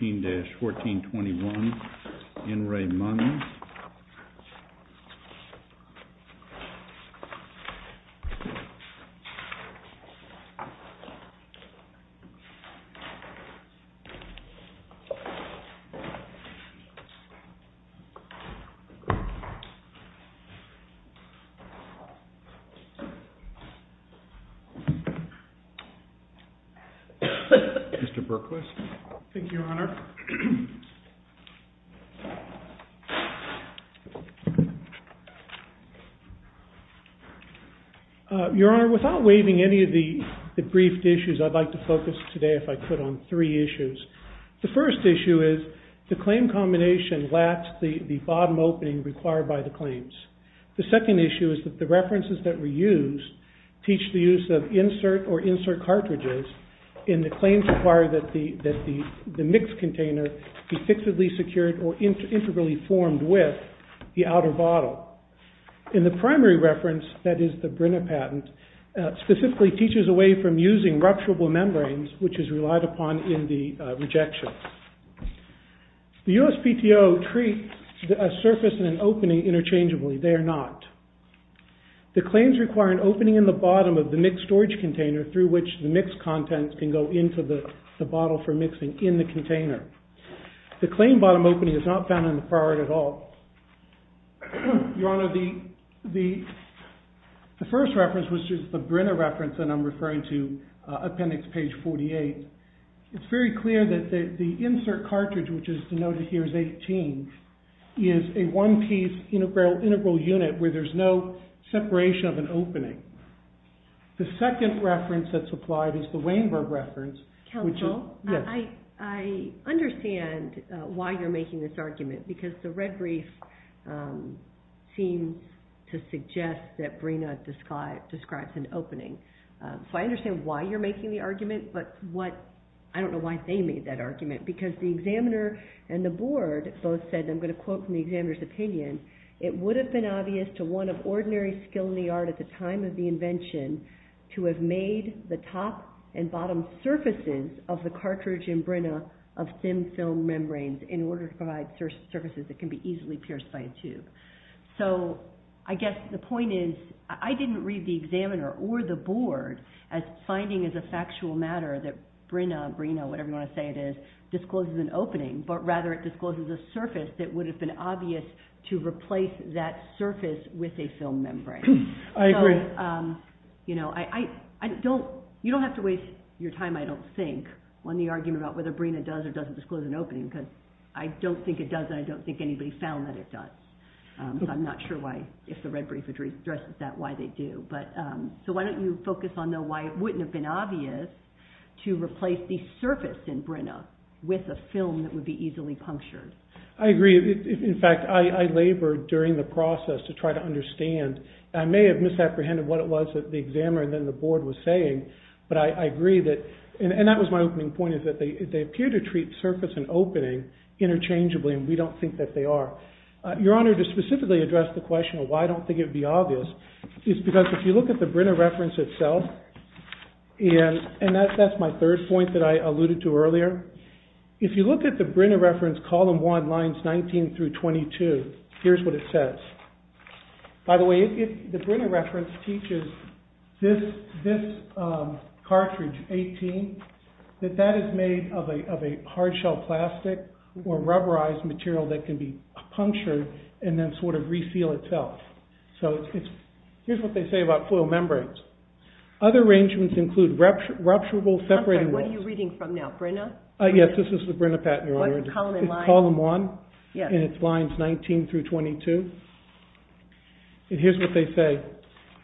14-1421 N. Ray Munz. Thank you, Your Honor. Mr. Berkowitz. Thank you, Your Honor. Your Honor, without waiving any of the briefed issues, I'd like to focus today, if I could, on three issues. The first issue is the claim combination lacks the bottom opening required by the claims. The second issue is that the references that were used teach the use of insert or insert cartridges and the claims require that the mixed container be fixedly secured or integrally formed with the outer bottle. In the primary reference, that is the Brina patent, specifically teaches away from using rupturable membranes, which is relied upon in the rejection. The USPTO treats a surface and an opening interchangeably. They are not. The claims require an opening in the bottom of the mixed storage container through which the mixed contents can go into the bottle for mixing in the container. The claim bottom opening is not found in the prior at all. Your Honor, the first reference, which is the Brina reference that I'm referring to, appendix page 48, it's very clear that the insert cartridge, which is denoted here as 18, is a one-piece integral unit where there's no separation of an opening. The second reference that's applied is the Weinberg reference. Counsel, I understand why you're making this argument because the red brief seems to suggest that Brina describes an opening. So I understand why you're making the argument, but I don't know why they made that argument because the examiner and the board both said, and I'm going to quote from the examiner's opinion, it would have been obvious to one of ordinary skill in the art at the time of the invention to have made the top and bottom surfaces of the cartridge in Brina of thin film membranes in order to provide surfaces that can be easily pierced by a tube. So I guess the point is I didn't read the examiner or the board as finding as a factual matter that Brina, Brina, whatever you want to say it is, discloses an opening, but rather it discloses a surface that would have been obvious to replace that surface with a film membrane. I agree. You don't have to waste your time, I don't think, on the argument about whether Brina does or doesn't disclose an opening because I don't think it does and I don't think anybody found that it does. So I'm not sure why, if the red brief addresses that, why they do. So why don't you focus on why it wouldn't have been obvious to replace the surface in Brina with a film that would be easily punctured. I agree. In fact, I labored during the process to try to understand. I may have misapprehended what it was that the examiner and then the board was saying, but I agree that, and that was my opening point, is that they appear to treat surface and opening interchangeably and we don't think that they are. Your Honor, to specifically address the question of why I don't think it would be obvious is because if you look at the Brina reference itself, and that's my third point that I alluded to earlier, if you look at the Brina reference column 1, lines 19 through 22, here's what it says. By the way, the Brina reference teaches this cartridge, 18, that that is made of a hard shell plastic or rubberized material that can be punctured and then sort of re-seal itself. So here's what they say about foil membranes. Other arrangements include rupturable separating walls. I'm sorry, what are you reading from now, Brina? Yes, this is the Brina pattern, Your Honor. What column and line? It's column 1 and it's lines 19 through 22. And here's what they say.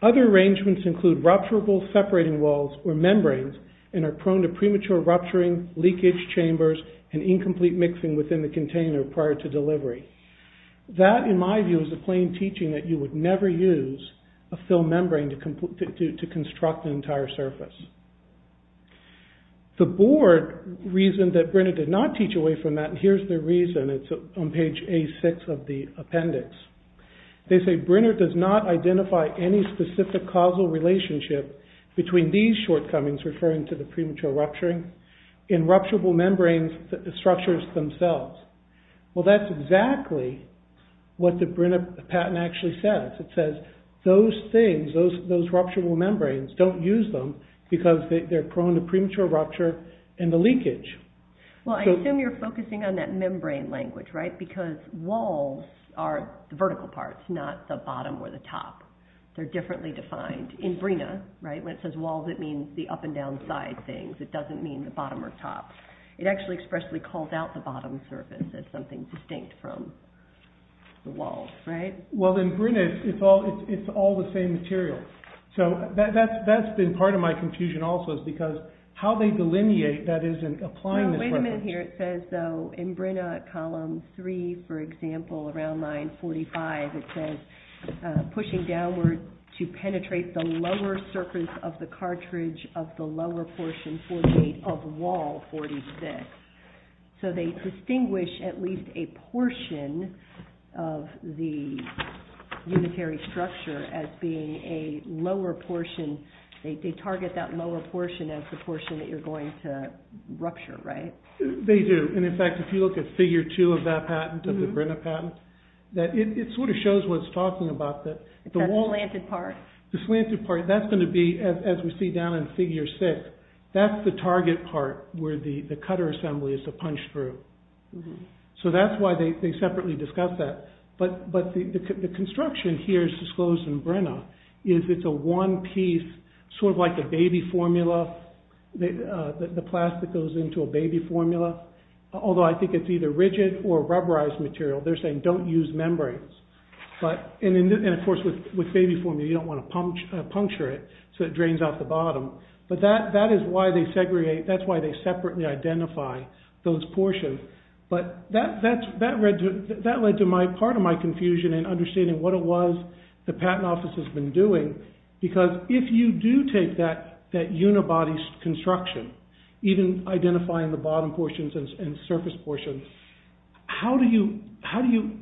Other arrangements include rupturable separating walls or membranes and are prone to premature rupturing, leakage chambers, and incomplete mixing within the container prior to delivery. That, in my view, is a plain teaching that you would never use a film membrane to construct an entire surface. The board reasoned that Brina did not teach away from that, and here's their reason. It's on page A6 of the appendix. They say Brina does not identify any specific causal relationship between these shortcomings, referring to the premature rupturing, and rupturable membrane structures themselves. Well, that's exactly what the Brina pattern actually says. It says those things, those rupturable membranes, don't use them because they're prone to premature rupture and the leakage. Well, I assume you're focusing on that membrane language, right? Because walls are the vertical parts, not the bottom or the top. They're differently defined. In Brina, when it says walls, it means the up and down side things. It doesn't mean the bottom or top. It actually expressly calls out the bottom surface as something distinct from the walls, right? Well, in Brina, it's all the same material. So that's been part of my confusion also, is because how they delineate that is in applying this reference. Well, wait a minute here. It says, though, in Brina, column 3, for example, around line 45, it says pushing downward to penetrate the lower surface of the cartridge of the lower portion, 48, of wall 46. So they distinguish at least a portion of the unitary structure as being a lower portion. They target that lower portion as the portion that you're going to rupture, right? They do, and in fact, if you look at figure 2 of that patent, of the Brina patent, it sort of shows what it's talking about. That slanted part? The slanted part, that's going to be, as we see down in figure 6, that's the target part where the cutter assembly is to punch through. So that's why they separately discuss that. But the construction here is disclosed in Brina, is it's a one-piece sort of like a baby formula. The plastic goes into a baby formula, although I think it's either rigid or rubberized material. They're saying don't use membranes. And of course, with baby formula, you don't want to puncture it so it drains out the bottom. But that is why they segregate, that's why they separately identify those portions. But that led to part of my confusion in understanding what it was the patent office has been doing, because if you do take that unibody construction, even identifying the bottom portions and surface portions, how do you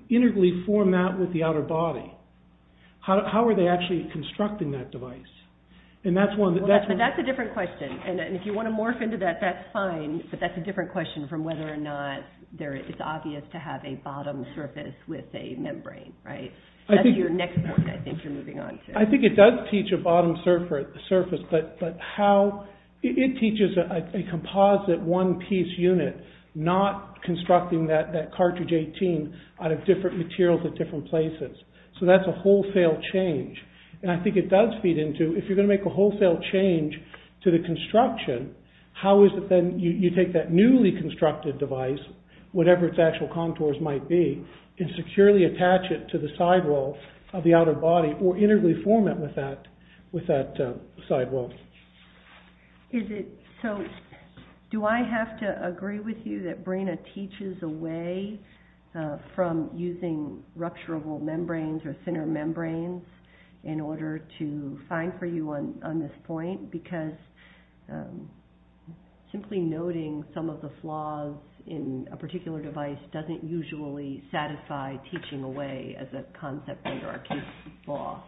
integrally format with the outer body? How are they actually constructing that device? And that's one... But that's a different question, and if you want to morph into that, that's fine, but that's a different question from whether or not it's obvious to have a bottom surface with a membrane, right? That's your next point I think you're moving on to. I think it does teach a bottom surface, but it teaches a composite one piece unit, not constructing that cartridge 18 out of different materials at different places. So that's a wholesale change. And I think it does feed into, if you're going to make a wholesale change to the construction, how is it then you take that newly constructed device, whatever its actual contours might be, and securely attach it to the sidewall of the outer body, or integrally format with that sidewall? Is it... So do I have to agree with you that BRENA teaches away from using rupturable membranes or thinner membranes in order to find for you on this point? Because simply noting some of the flaws in a particular device doesn't usually satisfy teaching away as a concept under our case law.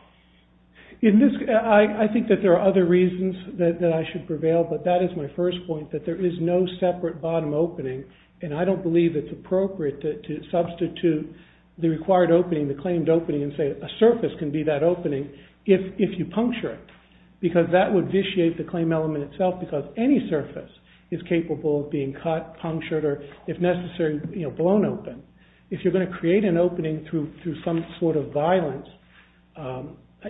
I think that there are other reasons that I should prevail, but that is my first point, that there is no separate bottom opening, and I don't believe it's appropriate to substitute the required opening, the claimed opening, and say a surface can be that opening if you puncture it. Because that would vitiate the claim element itself because any surface is capable of being cut, punctured, or if necessary, blown open. If you're going to create an opening through some sort of violence, then I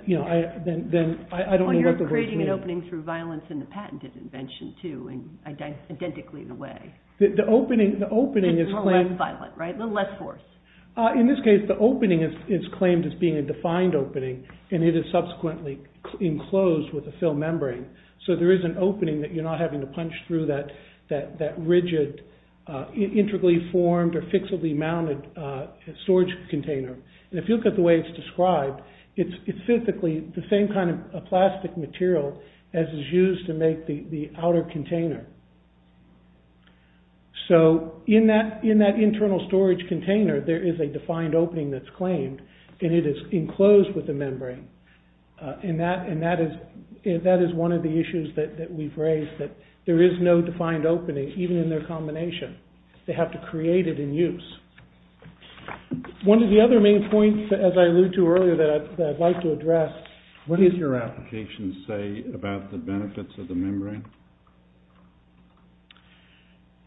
don't know what the rules mean. You're creating an opening through violence in the patented invention, too, and identically the way. The opening is claimed... It's a little less violent, right? A little less force. In this case, the opening is claimed as being a defined opening, and it is subsequently enclosed with a film membrane. So there is an opening that you're not having to punch through that rigid, intricately formed or fixably mounted storage container. And if you look at the way it's described, it's physically the same kind of plastic material as is used to make the outer container. So in that internal storage container, there is a defined opening that's claimed, and it is enclosed with a membrane, and that is one of the issues that we've raised that there is no defined opening, even in their combination. They have to create it in use. One of the other main points, as I alluded to earlier, that I'd like to address... What does your application say about the benefits of the membrane?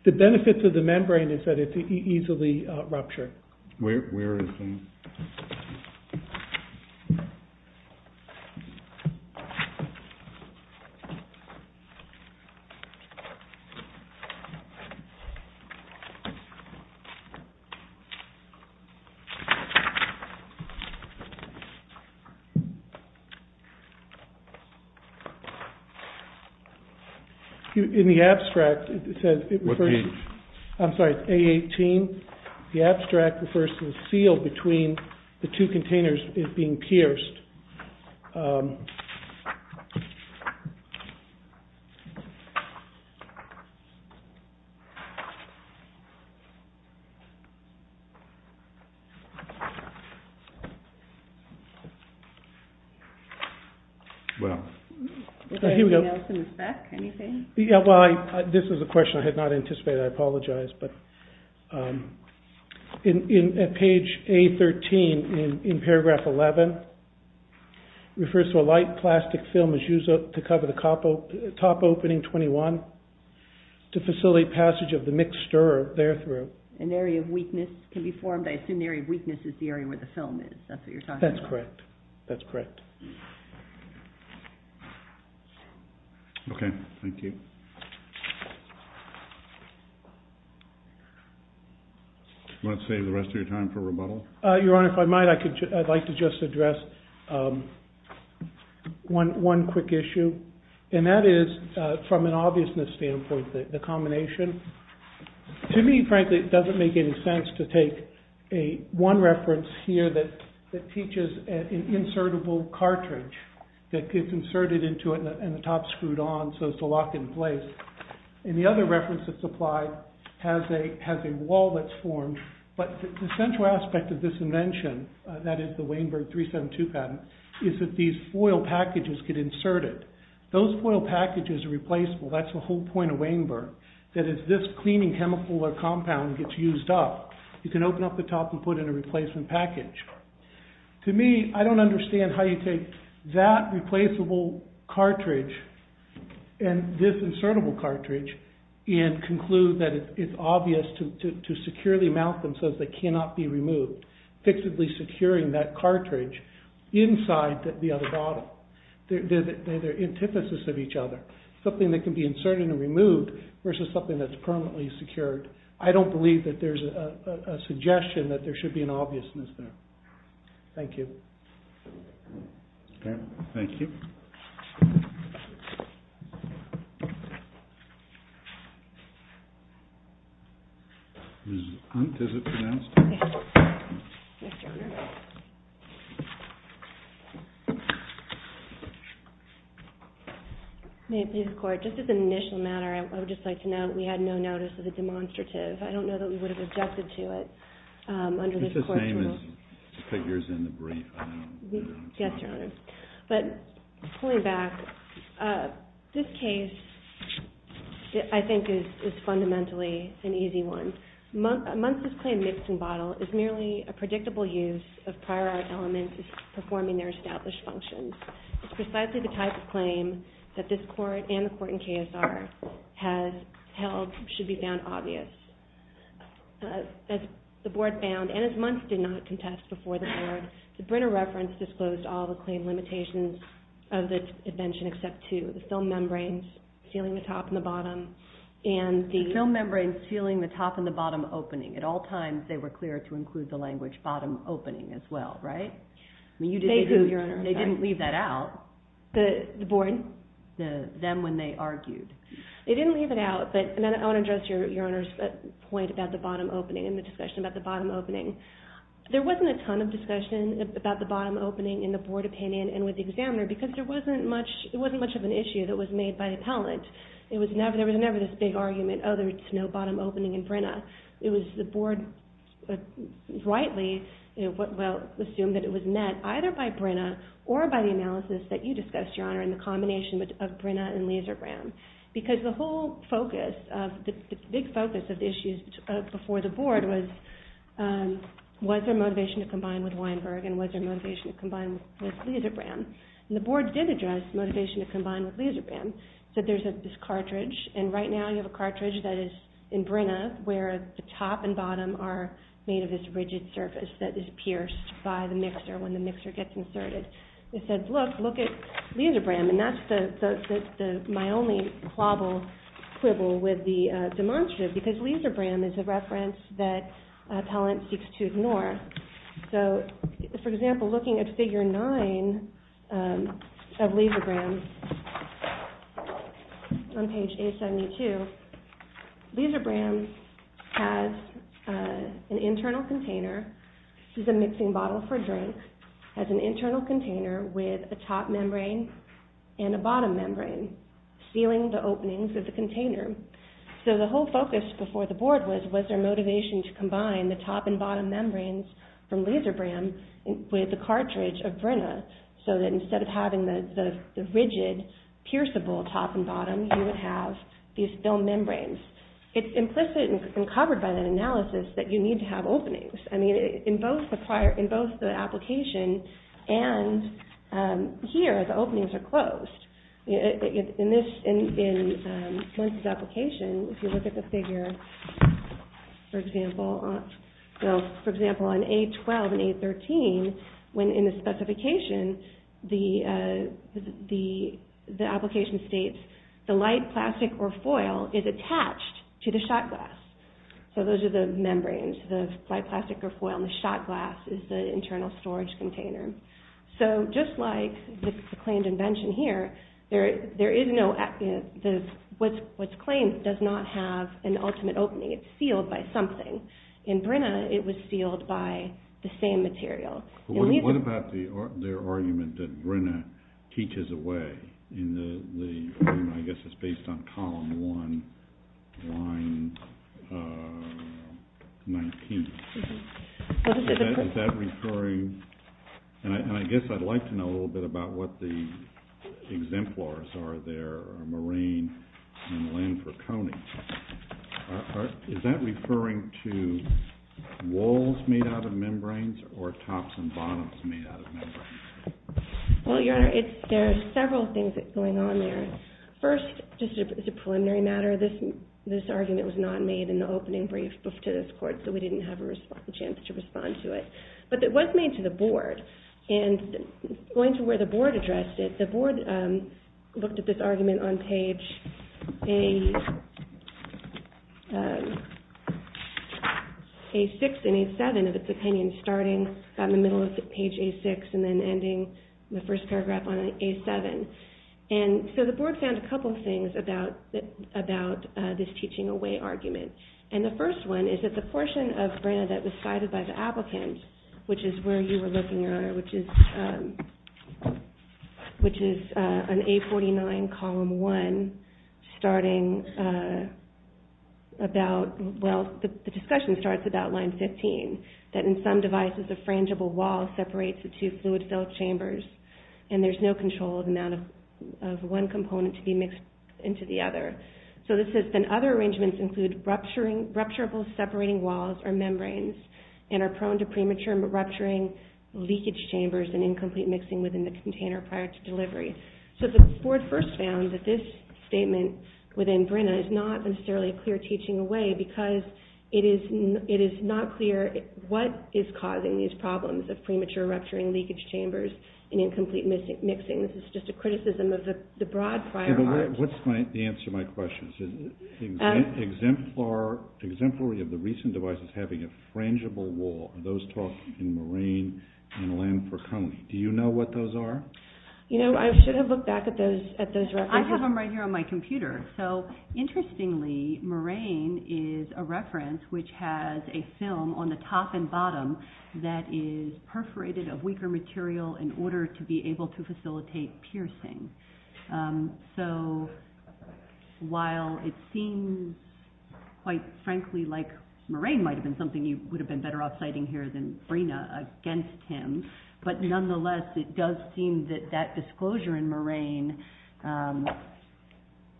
The benefits of the membrane is that it's easily ruptured. Where is that? In the abstract, it says... What's the... I'm sorry, A18. The abstract refers to the seal between the two containers being pierced. The seal between the two containers is being pierced. Is there anything else in the spec? Anything? This is a question I had not anticipated. I apologize. In page A13, in paragraph 11, it refers to a light plastic film And it says, in paragraph 11, it refers to a light plastic film to facilitate passage of the mixed stir there through. An area of weakness can be formed. I assume the area of weakness is the area where the film is. That's what you're talking about. That's correct. Okay, thank you. Do you want to save the rest of your time for rebuttal? Your Honor, if I might, I'd like to just address one quick issue. And that is, from an obviousness standpoint, the combination. To me, frankly, it doesn't make any sense to take one reference here that teaches an insertable cartridge that gets inserted into it and the top's screwed on so it's locked in place. And the other reference that's applied has a wall that's formed. But the central aspect of this invention, that is the Weinberg 372 patent, is that these foil packages get inserted. Those foil packages are replaceable. That's the whole point of Weinberg. That is, this cleaning hemophilic compound gets used up. You can open up the top and put in a replacement package. To me, I don't understand how you take that replaceable cartridge and this insertable cartridge and conclude that it's obvious to securely mount them so that they cannot be removed. Fixably securing that cartridge inside the other bottle. They're the antithesis of each other. Something that can be inserted and removed versus something that's permanently secured. I don't believe that there's a suggestion that there should be an obviousness there. Thank you. Okay, thank you. Ms. Hunt, is it pronounced? Yes, Your Honor. May it please the Court, just as an initial matter, I would just like to note we had no notice of a demonstrative. I don't know that we would have objected to it under this Court's rule. It's the same as the figures in the brief. Yes, Your Honor. But pulling back, this case, I think, is fundamentally an easy one. Muntz's claimed mixing bottle is merely a predictable use of prior art elements performing their established functions. It's precisely the type of claim that this Court and the Court in KSR has held should be found obvious. As the Board found, and as Muntz did not contest before the Board, the Brenner reference disclosed all the claim limitations of the invention except two. The film membranes sealing the top and the bottom The film membranes sealing the top and the bottom opening. At all times, they were clear to include the language bottom opening as well, right? They didn't leave that out. The Board? Them when they argued. They didn't leave it out, but I want to address Your Honor's point about the bottom opening and the discussion about the bottom opening. There wasn't a ton of discussion about the bottom opening in the Board opinion and with the examiner because it wasn't much of an issue that was made by appellant. There was never this big argument, oh, there's no bottom opening in Brenner. It was the Board rightly, well, assumed that it was met either by Brenner or by the analysis that you discussed, Your Honor, in the combination of Brenner and Lisebrand. Because the whole focus, the big focus of the issues before the Board was was there motivation to combine with Weinberg and was there motivation to combine with Lisebrand. And the Board did address motivation to combine with Lisebrand. So there's this cartridge, and right now you have a cartridge that is in Brenner where the top and bottom are made of this rigid surface that is pierced by the mixer when the mixer gets inserted. It says, look, look at Lisebrand, and that's my only quibble with the demonstrative because Lisebrand is a reference that appellant seeks to ignore. So, for example, looking at Figure 9 of Lisebrand, on page 872, Lisebrand has an internal container. This is a mixing bottle for drinks. It has an internal container with a top membrane and a bottom membrane sealing the openings of the container. So the whole focus before the Board was was there motivation to combine the top and bottom membranes from Lisebrand with the cartridge of Brenner so that instead of having the rigid, pierceable top and bottom, you would have these film membranes. It's implicit and covered by that analysis that you need to have openings. I mean, in both the application and here, the openings are closed. In Muncie's application, if you look at the figure, for example, on A12 and A13, when in the specification, the application states, the light plastic or foil is attached to the shot glass. So those are the membranes, the light plastic or foil, and the shot glass is the internal storage container. So just like the claimed invention here, there is no, what's claimed does not have an ultimate opening. It's sealed by something. In Brenner, it was sealed by the same material. What about their argument that Brenner teaches away in the, I guess it's based on Column 1, Line 19. Is that referring, and I guess I'd like to know a little bit about what the exemplars are there, Moraine and Landford-Koenig. Is that referring to walls made out of membranes or tops and bottoms made out of membranes? Well, Your Honor, there are several things that's going on there. First, just as a preliminary matter, this argument was not made in the opening brief to this Court, so we didn't have a chance to respond to it. But it was made to the Board, and going to where the Board addressed it, the Board looked at this argument on page, A6 and A7 of its opinion, starting about in the middle of page A6 and then ending the first paragraph on A7. And so the Board found a couple things about this teaching away argument. And the first one is that the portion of Brenner that was cited by the applicant, which is where you were looking, Your Honor, which is on A49, Column 1, starting about, well, the discussion starts about line 15, that in some devices a frangible wall separates the two fluid-filled chambers, and there's no control of the amount of one component to be mixed into the other. So this says, then other arrangements include rupturable separating walls or membranes and are prone to premature rupturing, leakage chambers, and incomplete mixing within the container prior to delivery. So the Board first found that this statement within Brenner is not necessarily a clear teaching away because it is not clear what is causing these problems of premature rupturing, leakage chambers, and incomplete mixing. This is just a criticism of the broad prior argument. What's the answer to my question? Exemplary of the recent devices having a frangible wall. Those talk in moraine and land for coney. Do you know what those are? You know, I should have looked back at those references. I have them right here on my computer. So interestingly, moraine is a reference which has a film on the top and bottom that is perforated of weaker material in order to be able to facilitate piercing. So while it seems quite frankly like moraine might have been something you would have been better off citing here than Brenner against him, but nonetheless it does seem that that disclosure in moraine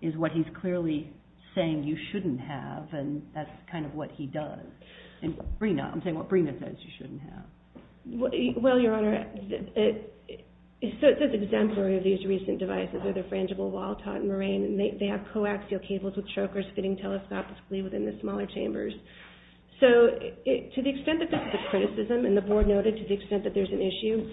is what he's clearly saying you shouldn't have and that's kind of what he does. I'm saying what Brenner says you shouldn't have. Well, Your Honor, so it says exemplary of these recent devices with a frangible wall taught in moraine and they have coaxial cables with chokers fitting telescopically within the smaller chambers. So to the extent that this is a criticism and the board noted to the extent that there's an issue,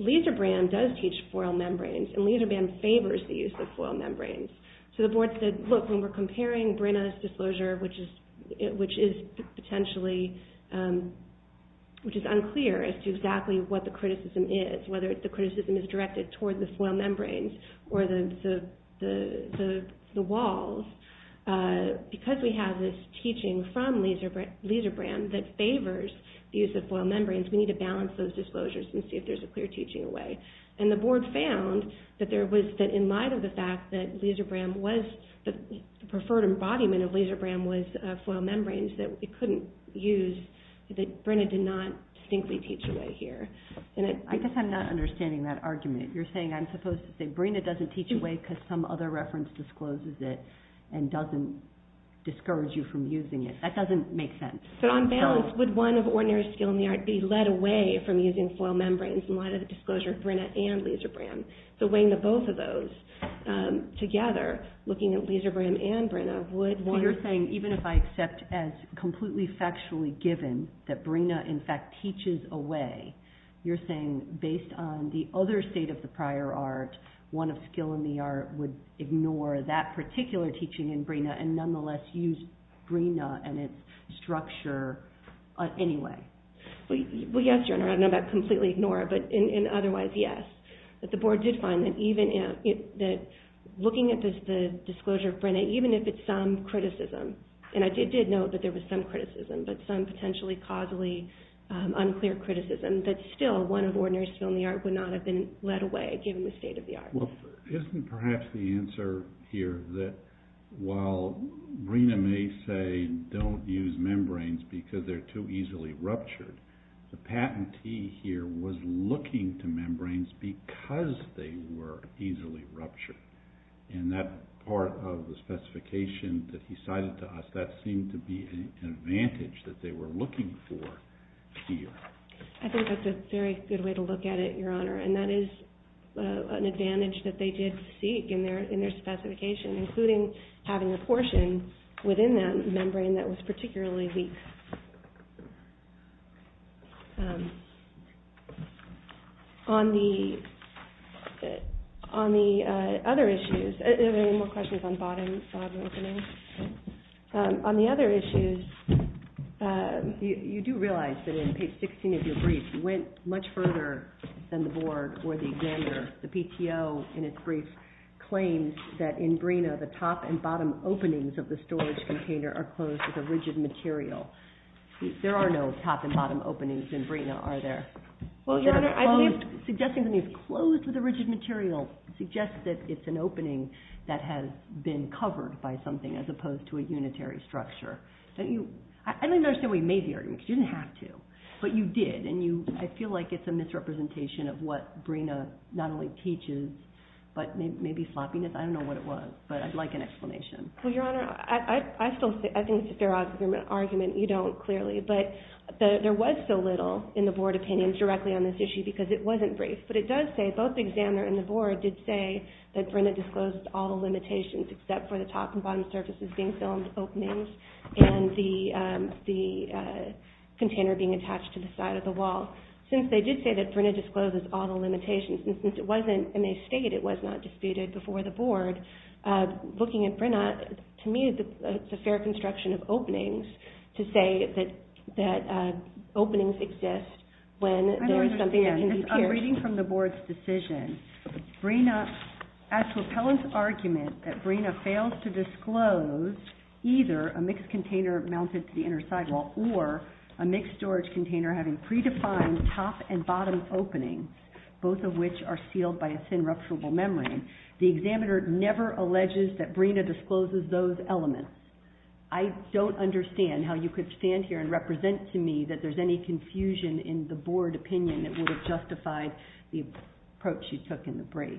Liserbram does teach foil membranes and Liserbram favors the use of foil membranes. So the board said, look, when we're comparing Brenner's disclosure which is potentially unclear as to exactly what the criticism is, whether the criticism is directed towards the foil membranes or the walls, because we have this teaching from Liserbram that favors the use of foil membranes, we need to balance those disclosures and see if there's a clear teaching away. And the board found that in light of the fact that the preferred embodiment of Liserbram was foil membranes that it couldn't use, that Brenner did not distinctly teach away here. I guess I'm not understanding that argument. You're saying I'm supposed to say Brenner doesn't teach away because some other reference discloses it and doesn't discourage you from using it. That doesn't make sense. But on balance, would one of ordinary skill in the art be led away from using foil membranes in light of the disclosure of Brenner and Liserbram? So weighing the both of those together, looking at Liserbram and Brenner, would one... So you're saying even if I accept as completely factually given that Brenner in fact teaches away, you're saying based on the other state of the prior art, one of skill in the art would ignore that particular teaching in Brenner and nonetheless use Brenner and its structure anyway? Well, yes, Your Honor. I don't know about completely ignore it, but otherwise, yes. But the board did find that looking at the disclosure of Brenner, even if it's some criticism, and I did note that there was some criticism, but some potentially causally unclear criticism, that still one of ordinary skill in the art would not have been led away given the state of the art. Well, isn't perhaps the answer here that while Brenner may say don't use membranes because they're too easily ruptured, the patentee here was looking to membranes because they were easily ruptured. In that part of the specification that he cited to us, that seemed to be an advantage that they were looking for here. I think that's a very good way to look at it, Your Honor, and that is an advantage that they did seek in their specification, including having a portion within that membrane that was particularly weak. On the other issues, are there any more questions on the bottom opening? On the other issues... You do realize that in page 16 of your brief, you went much further than the board or the examiner. The PTO, in its brief, claims that in Brenner, the top and bottom openings of the storage container are closed with a rigid material. There are no top and bottom openings in Brenner, are there? Well, Your Honor, I believe... Suggesting that it's closed with a rigid material suggests that it's an opening that has been covered by something as opposed to a unitary structure. I don't understand why you made the argument because you didn't have to, but you did, and I feel like it's a misrepresentation of what Brenner not only teaches, but maybe floppiness. I don't know what it was, but I'd like an explanation. Well, Your Honor, I think it's a fair argument. You don't, clearly, but there was so little in the board opinion directly on this issue because it wasn't brief, but it does say both the examiner and the board did say that Brenner disclosed all the limitations except for the top and bottom surfaces being filmed openings and the container being attached to the side of the wall. Since they did say that Brenner discloses all the limitations and since it wasn't in a state it was not disputed before the board, looking at Brenner, to me, it's a fair construction of openings to say that openings exist when there is something that can be pierced. I'm reading from the board's decision. As to Appellant's argument that Brenner fails to disclose either a mixed container mounted to the inner side wall or a mixed storage container having predefined top and bottom openings, both of which are sealed by a thin rupturable membrane, the examiner never alleges that Brenner discloses those elements. I don't understand how you could stand here and represent to me that there's any confusion in the board opinion that would have justified the approach you took in the brief.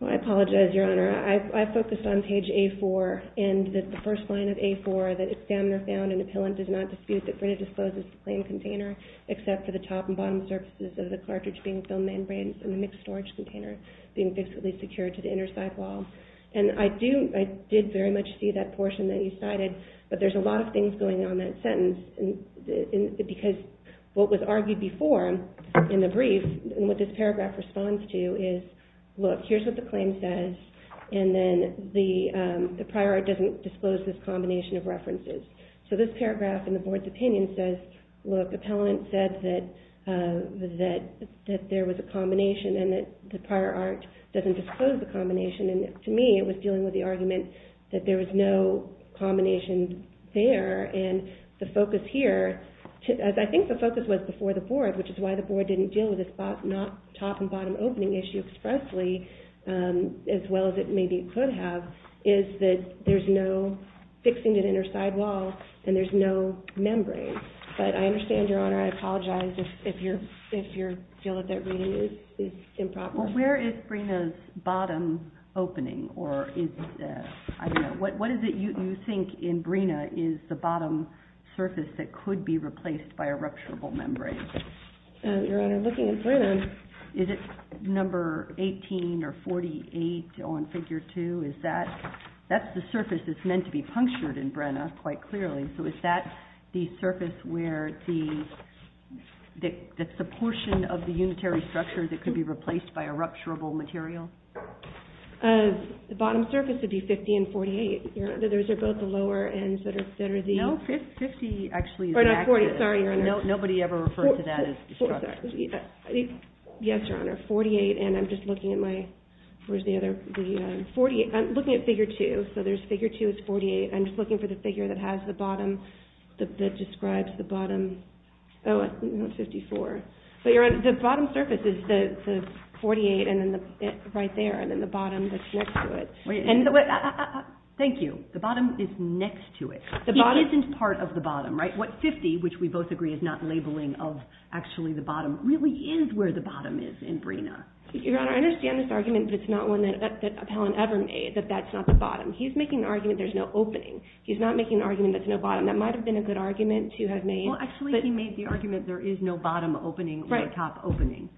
Well, I apologize, Your Honor. I focused on page A4 and that the first line of A4, that the examiner found in Appellant does not dispute that Brenner discloses the plain container except for the top and bottom surfaces of the cartridge being filled membranes and the mixed storage container being fixedly secured to the inner side wall. And I did very much see that portion that you cited, but there's a lot of things going on in that sentence because what was argued before in the brief and what this paragraph responds to is, look, here's what the claim says, and then the prior art doesn't disclose this combination of references. So this paragraph in the board's opinion says, look, Appellant said that there was a combination and that the prior art doesn't disclose the combination, and to me it was dealing with the argument that there was no combination there and the focus here, as I think the focus was before the board, which is why the board didn't deal with this top and bottom opening issue expressly as well as it maybe could have, is that there's no fixing to the inner side wall and there's no membrane. But I understand, Your Honor, I apologize if you feel that that reading is improper. Well, where is Brenner's bottom opening? Or is it, I don't know, what is it you think in Brenner is the bottom surface that could be replaced by a rupturable membrane? Your Honor, looking at Brenner, is it number 18 or 48 on Figure 2? That's the surface that's meant to be punctured in Brenner quite clearly. So is that the surface where the portion of the unitary structure that could be replaced by a rupturable material? The bottom surface would be 50 and 48. Those are both the lower ends that are the... No, 50 actually is active. Sorry, Your Honor. Nobody ever referred to that as the structure. Yes, Your Honor, 48, and I'm just looking at my... Where's the other... I'm looking at Figure 2, so Figure 2 is 48. I'm just looking for the figure that has the bottom, that describes the bottom. Oh, 54. The bottom surface is the 48 right there, and then the bottom that's next to it. Thank you. The bottom is next to it. It isn't part of the bottom, right? What 50, which we both agree is not labeling of actually the bottom, really is where the bottom is in Brenner. Your Honor, I understand this argument, but it's not one that Appellant ever made, that that's not the bottom. He's making the argument there's no opening. He's not making the argument there's no bottom. That might have been a good argument to have made. Well, actually, he made the argument there is no bottom opening or top opening,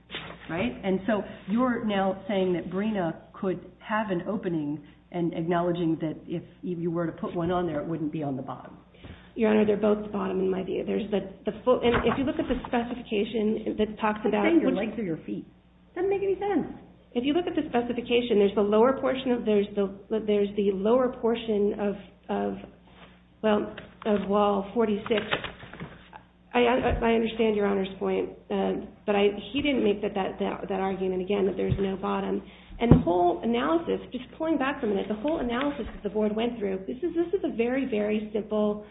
right? And so you're now saying that Brenner could have an opening and acknowledging that if you were to put one on there, it wouldn't be on the bottom. Your Honor, they're both the bottom in my view. And if you look at the specification that talks about it. It doesn't make any sense. If you look at the specification, there's the lower portion of, there's the lower portion of, well, of wall 46. I understand Your Honor's point, but he didn't make that argument again that there's no bottom. And the whole analysis, just pulling back a minute, the whole analysis that the Board went through, this is a very, very simple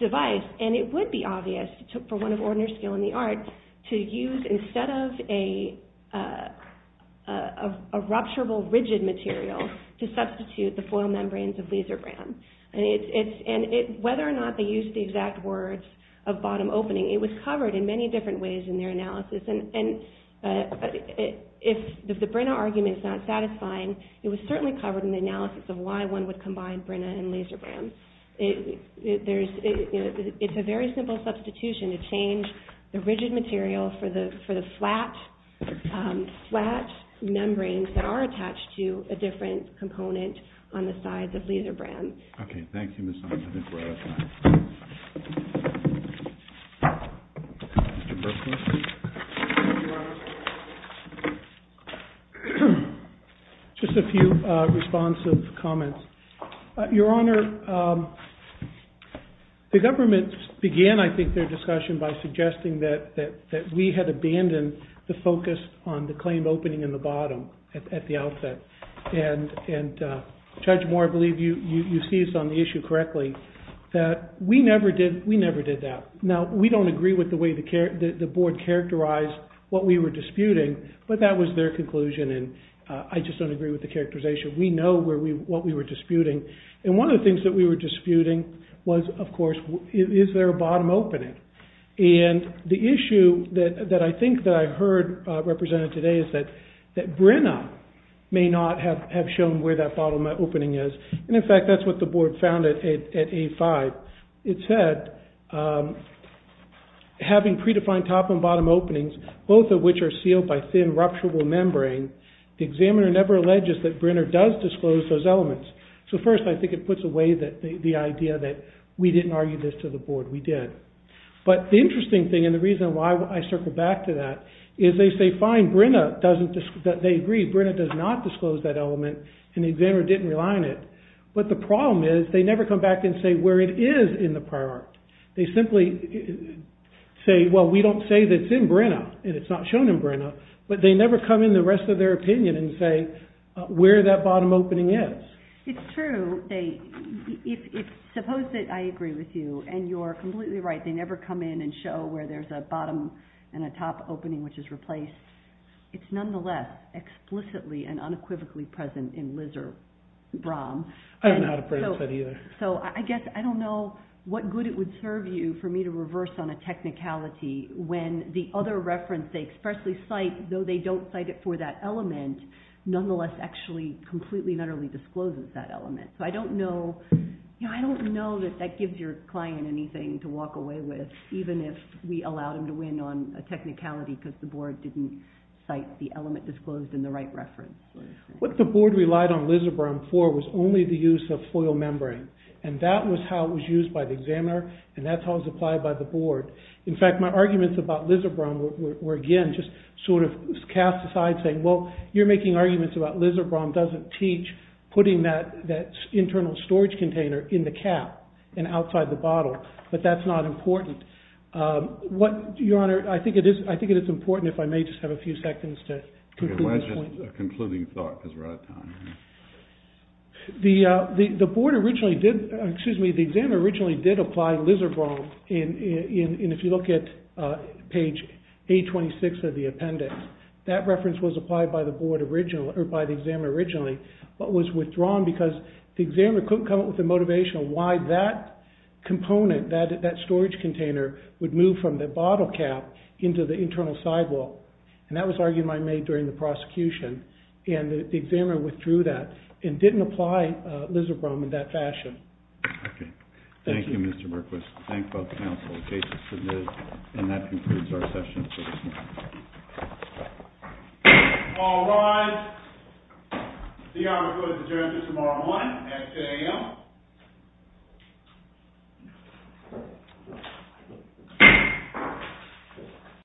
device. And it would be obvious for one of Ordner's skill in the arts to use instead of a rupturable rigid material to substitute the foil membranes of Lisebrand. And whether or not they used the exact words of bottom opening, it was covered in many different ways in their analysis. And if the Brenner argument is not satisfying, it was certainly covered in the analysis of why one would combine both Brenner and Lisebrand. It's a very simple substitution to change the rigid material for the flat membranes that are attached to a different component on the sides of Lisebrand. Okay, thank you, Ms. Ong. I think we're out of time. Mr. Berkman. Your Honor, just a few responsive comments. Your Honor, the government began, I think, their discussion by suggesting that we had abandoned the focus on the claim opening in the bottom at the outset. And Judge Moore, I believe you see this on the issue correctly, that we never did that. Now, we don't agree with the way the board characterized what we were disputing, but that was their conclusion. And I just don't agree with the characterization. We know what we were disputing. And one of the things that we were disputing was, of course, is there a bottom opening? And the issue that I think that I heard represented today is that Brenner may not have shown where that bottom opening is. And, in fact, that's what the board found at A5. It said, having predefined top and bottom openings, both of which are sealed by thin, rupturable membrane, the examiner never alleges that Brenner does disclose those elements. So, first, I think it puts away the idea that we didn't argue this to the board. We did. But the interesting thing, and the reason why I circle back to that, is they say, fine, they agree, Brenner does not disclose that element, and the examiner didn't rely on it. But the problem is they never come back and say where it is in the prior art. They simply say, well, we don't say that it's in Brenner, and it's not shown in Brenner, but they never come in the rest of their opinion and say where that bottom opening is. It's true. Suppose that I agree with you, and you're completely right, they never come in and show where there's a bottom and a top opening which is replaced. It's nonetheless explicitly and unequivocally present in Liz or Brom. I don't know how to present that either. So I guess I don't know what good it would serve you for me to reverse on a technicality when the other reference they expressly cite, though they don't cite it for that element, nonetheless actually completely and utterly discloses that element. So I don't know that that gives your client anything to walk away with, even if we allowed him to win on a technicality because the board didn't cite the element disclosed in the right reference. What the board relied on Liz or Brom for was only the use of foil membrane, and that was how it was used by the examiner, and that's how it was applied by the board. In fact, my arguments about Liz or Brom were, again, just sort of cast aside saying, well, you're making arguments about Liz or Brom doesn't teach putting that internal storage container in the cap and outside the bottle, but that's not important. Your Honor, I think it is important, if I may just have a few seconds to conclude this point. Okay, why just a concluding thought because we're out of time. The board originally did, excuse me, the examiner originally did apply Liz or Brom in, if you look at page 826 of the appendix, that reference was applied by the board originally, or by the examiner originally, but was withdrawn because the examiner couldn't come up with the motivation on why that component, that storage container, would move from the bottle cap into the internal sidewall, and that was an argument I made during the prosecution, and the examiner withdrew that and didn't apply Liz or Brom in that fashion. Okay, thank you, Mr. Berkowitz. Thank both counsel. The case is submitted, and that concludes our session for this morning. All rise. The hour was adjourned until tomorrow morning at 2 a.m. Thank you.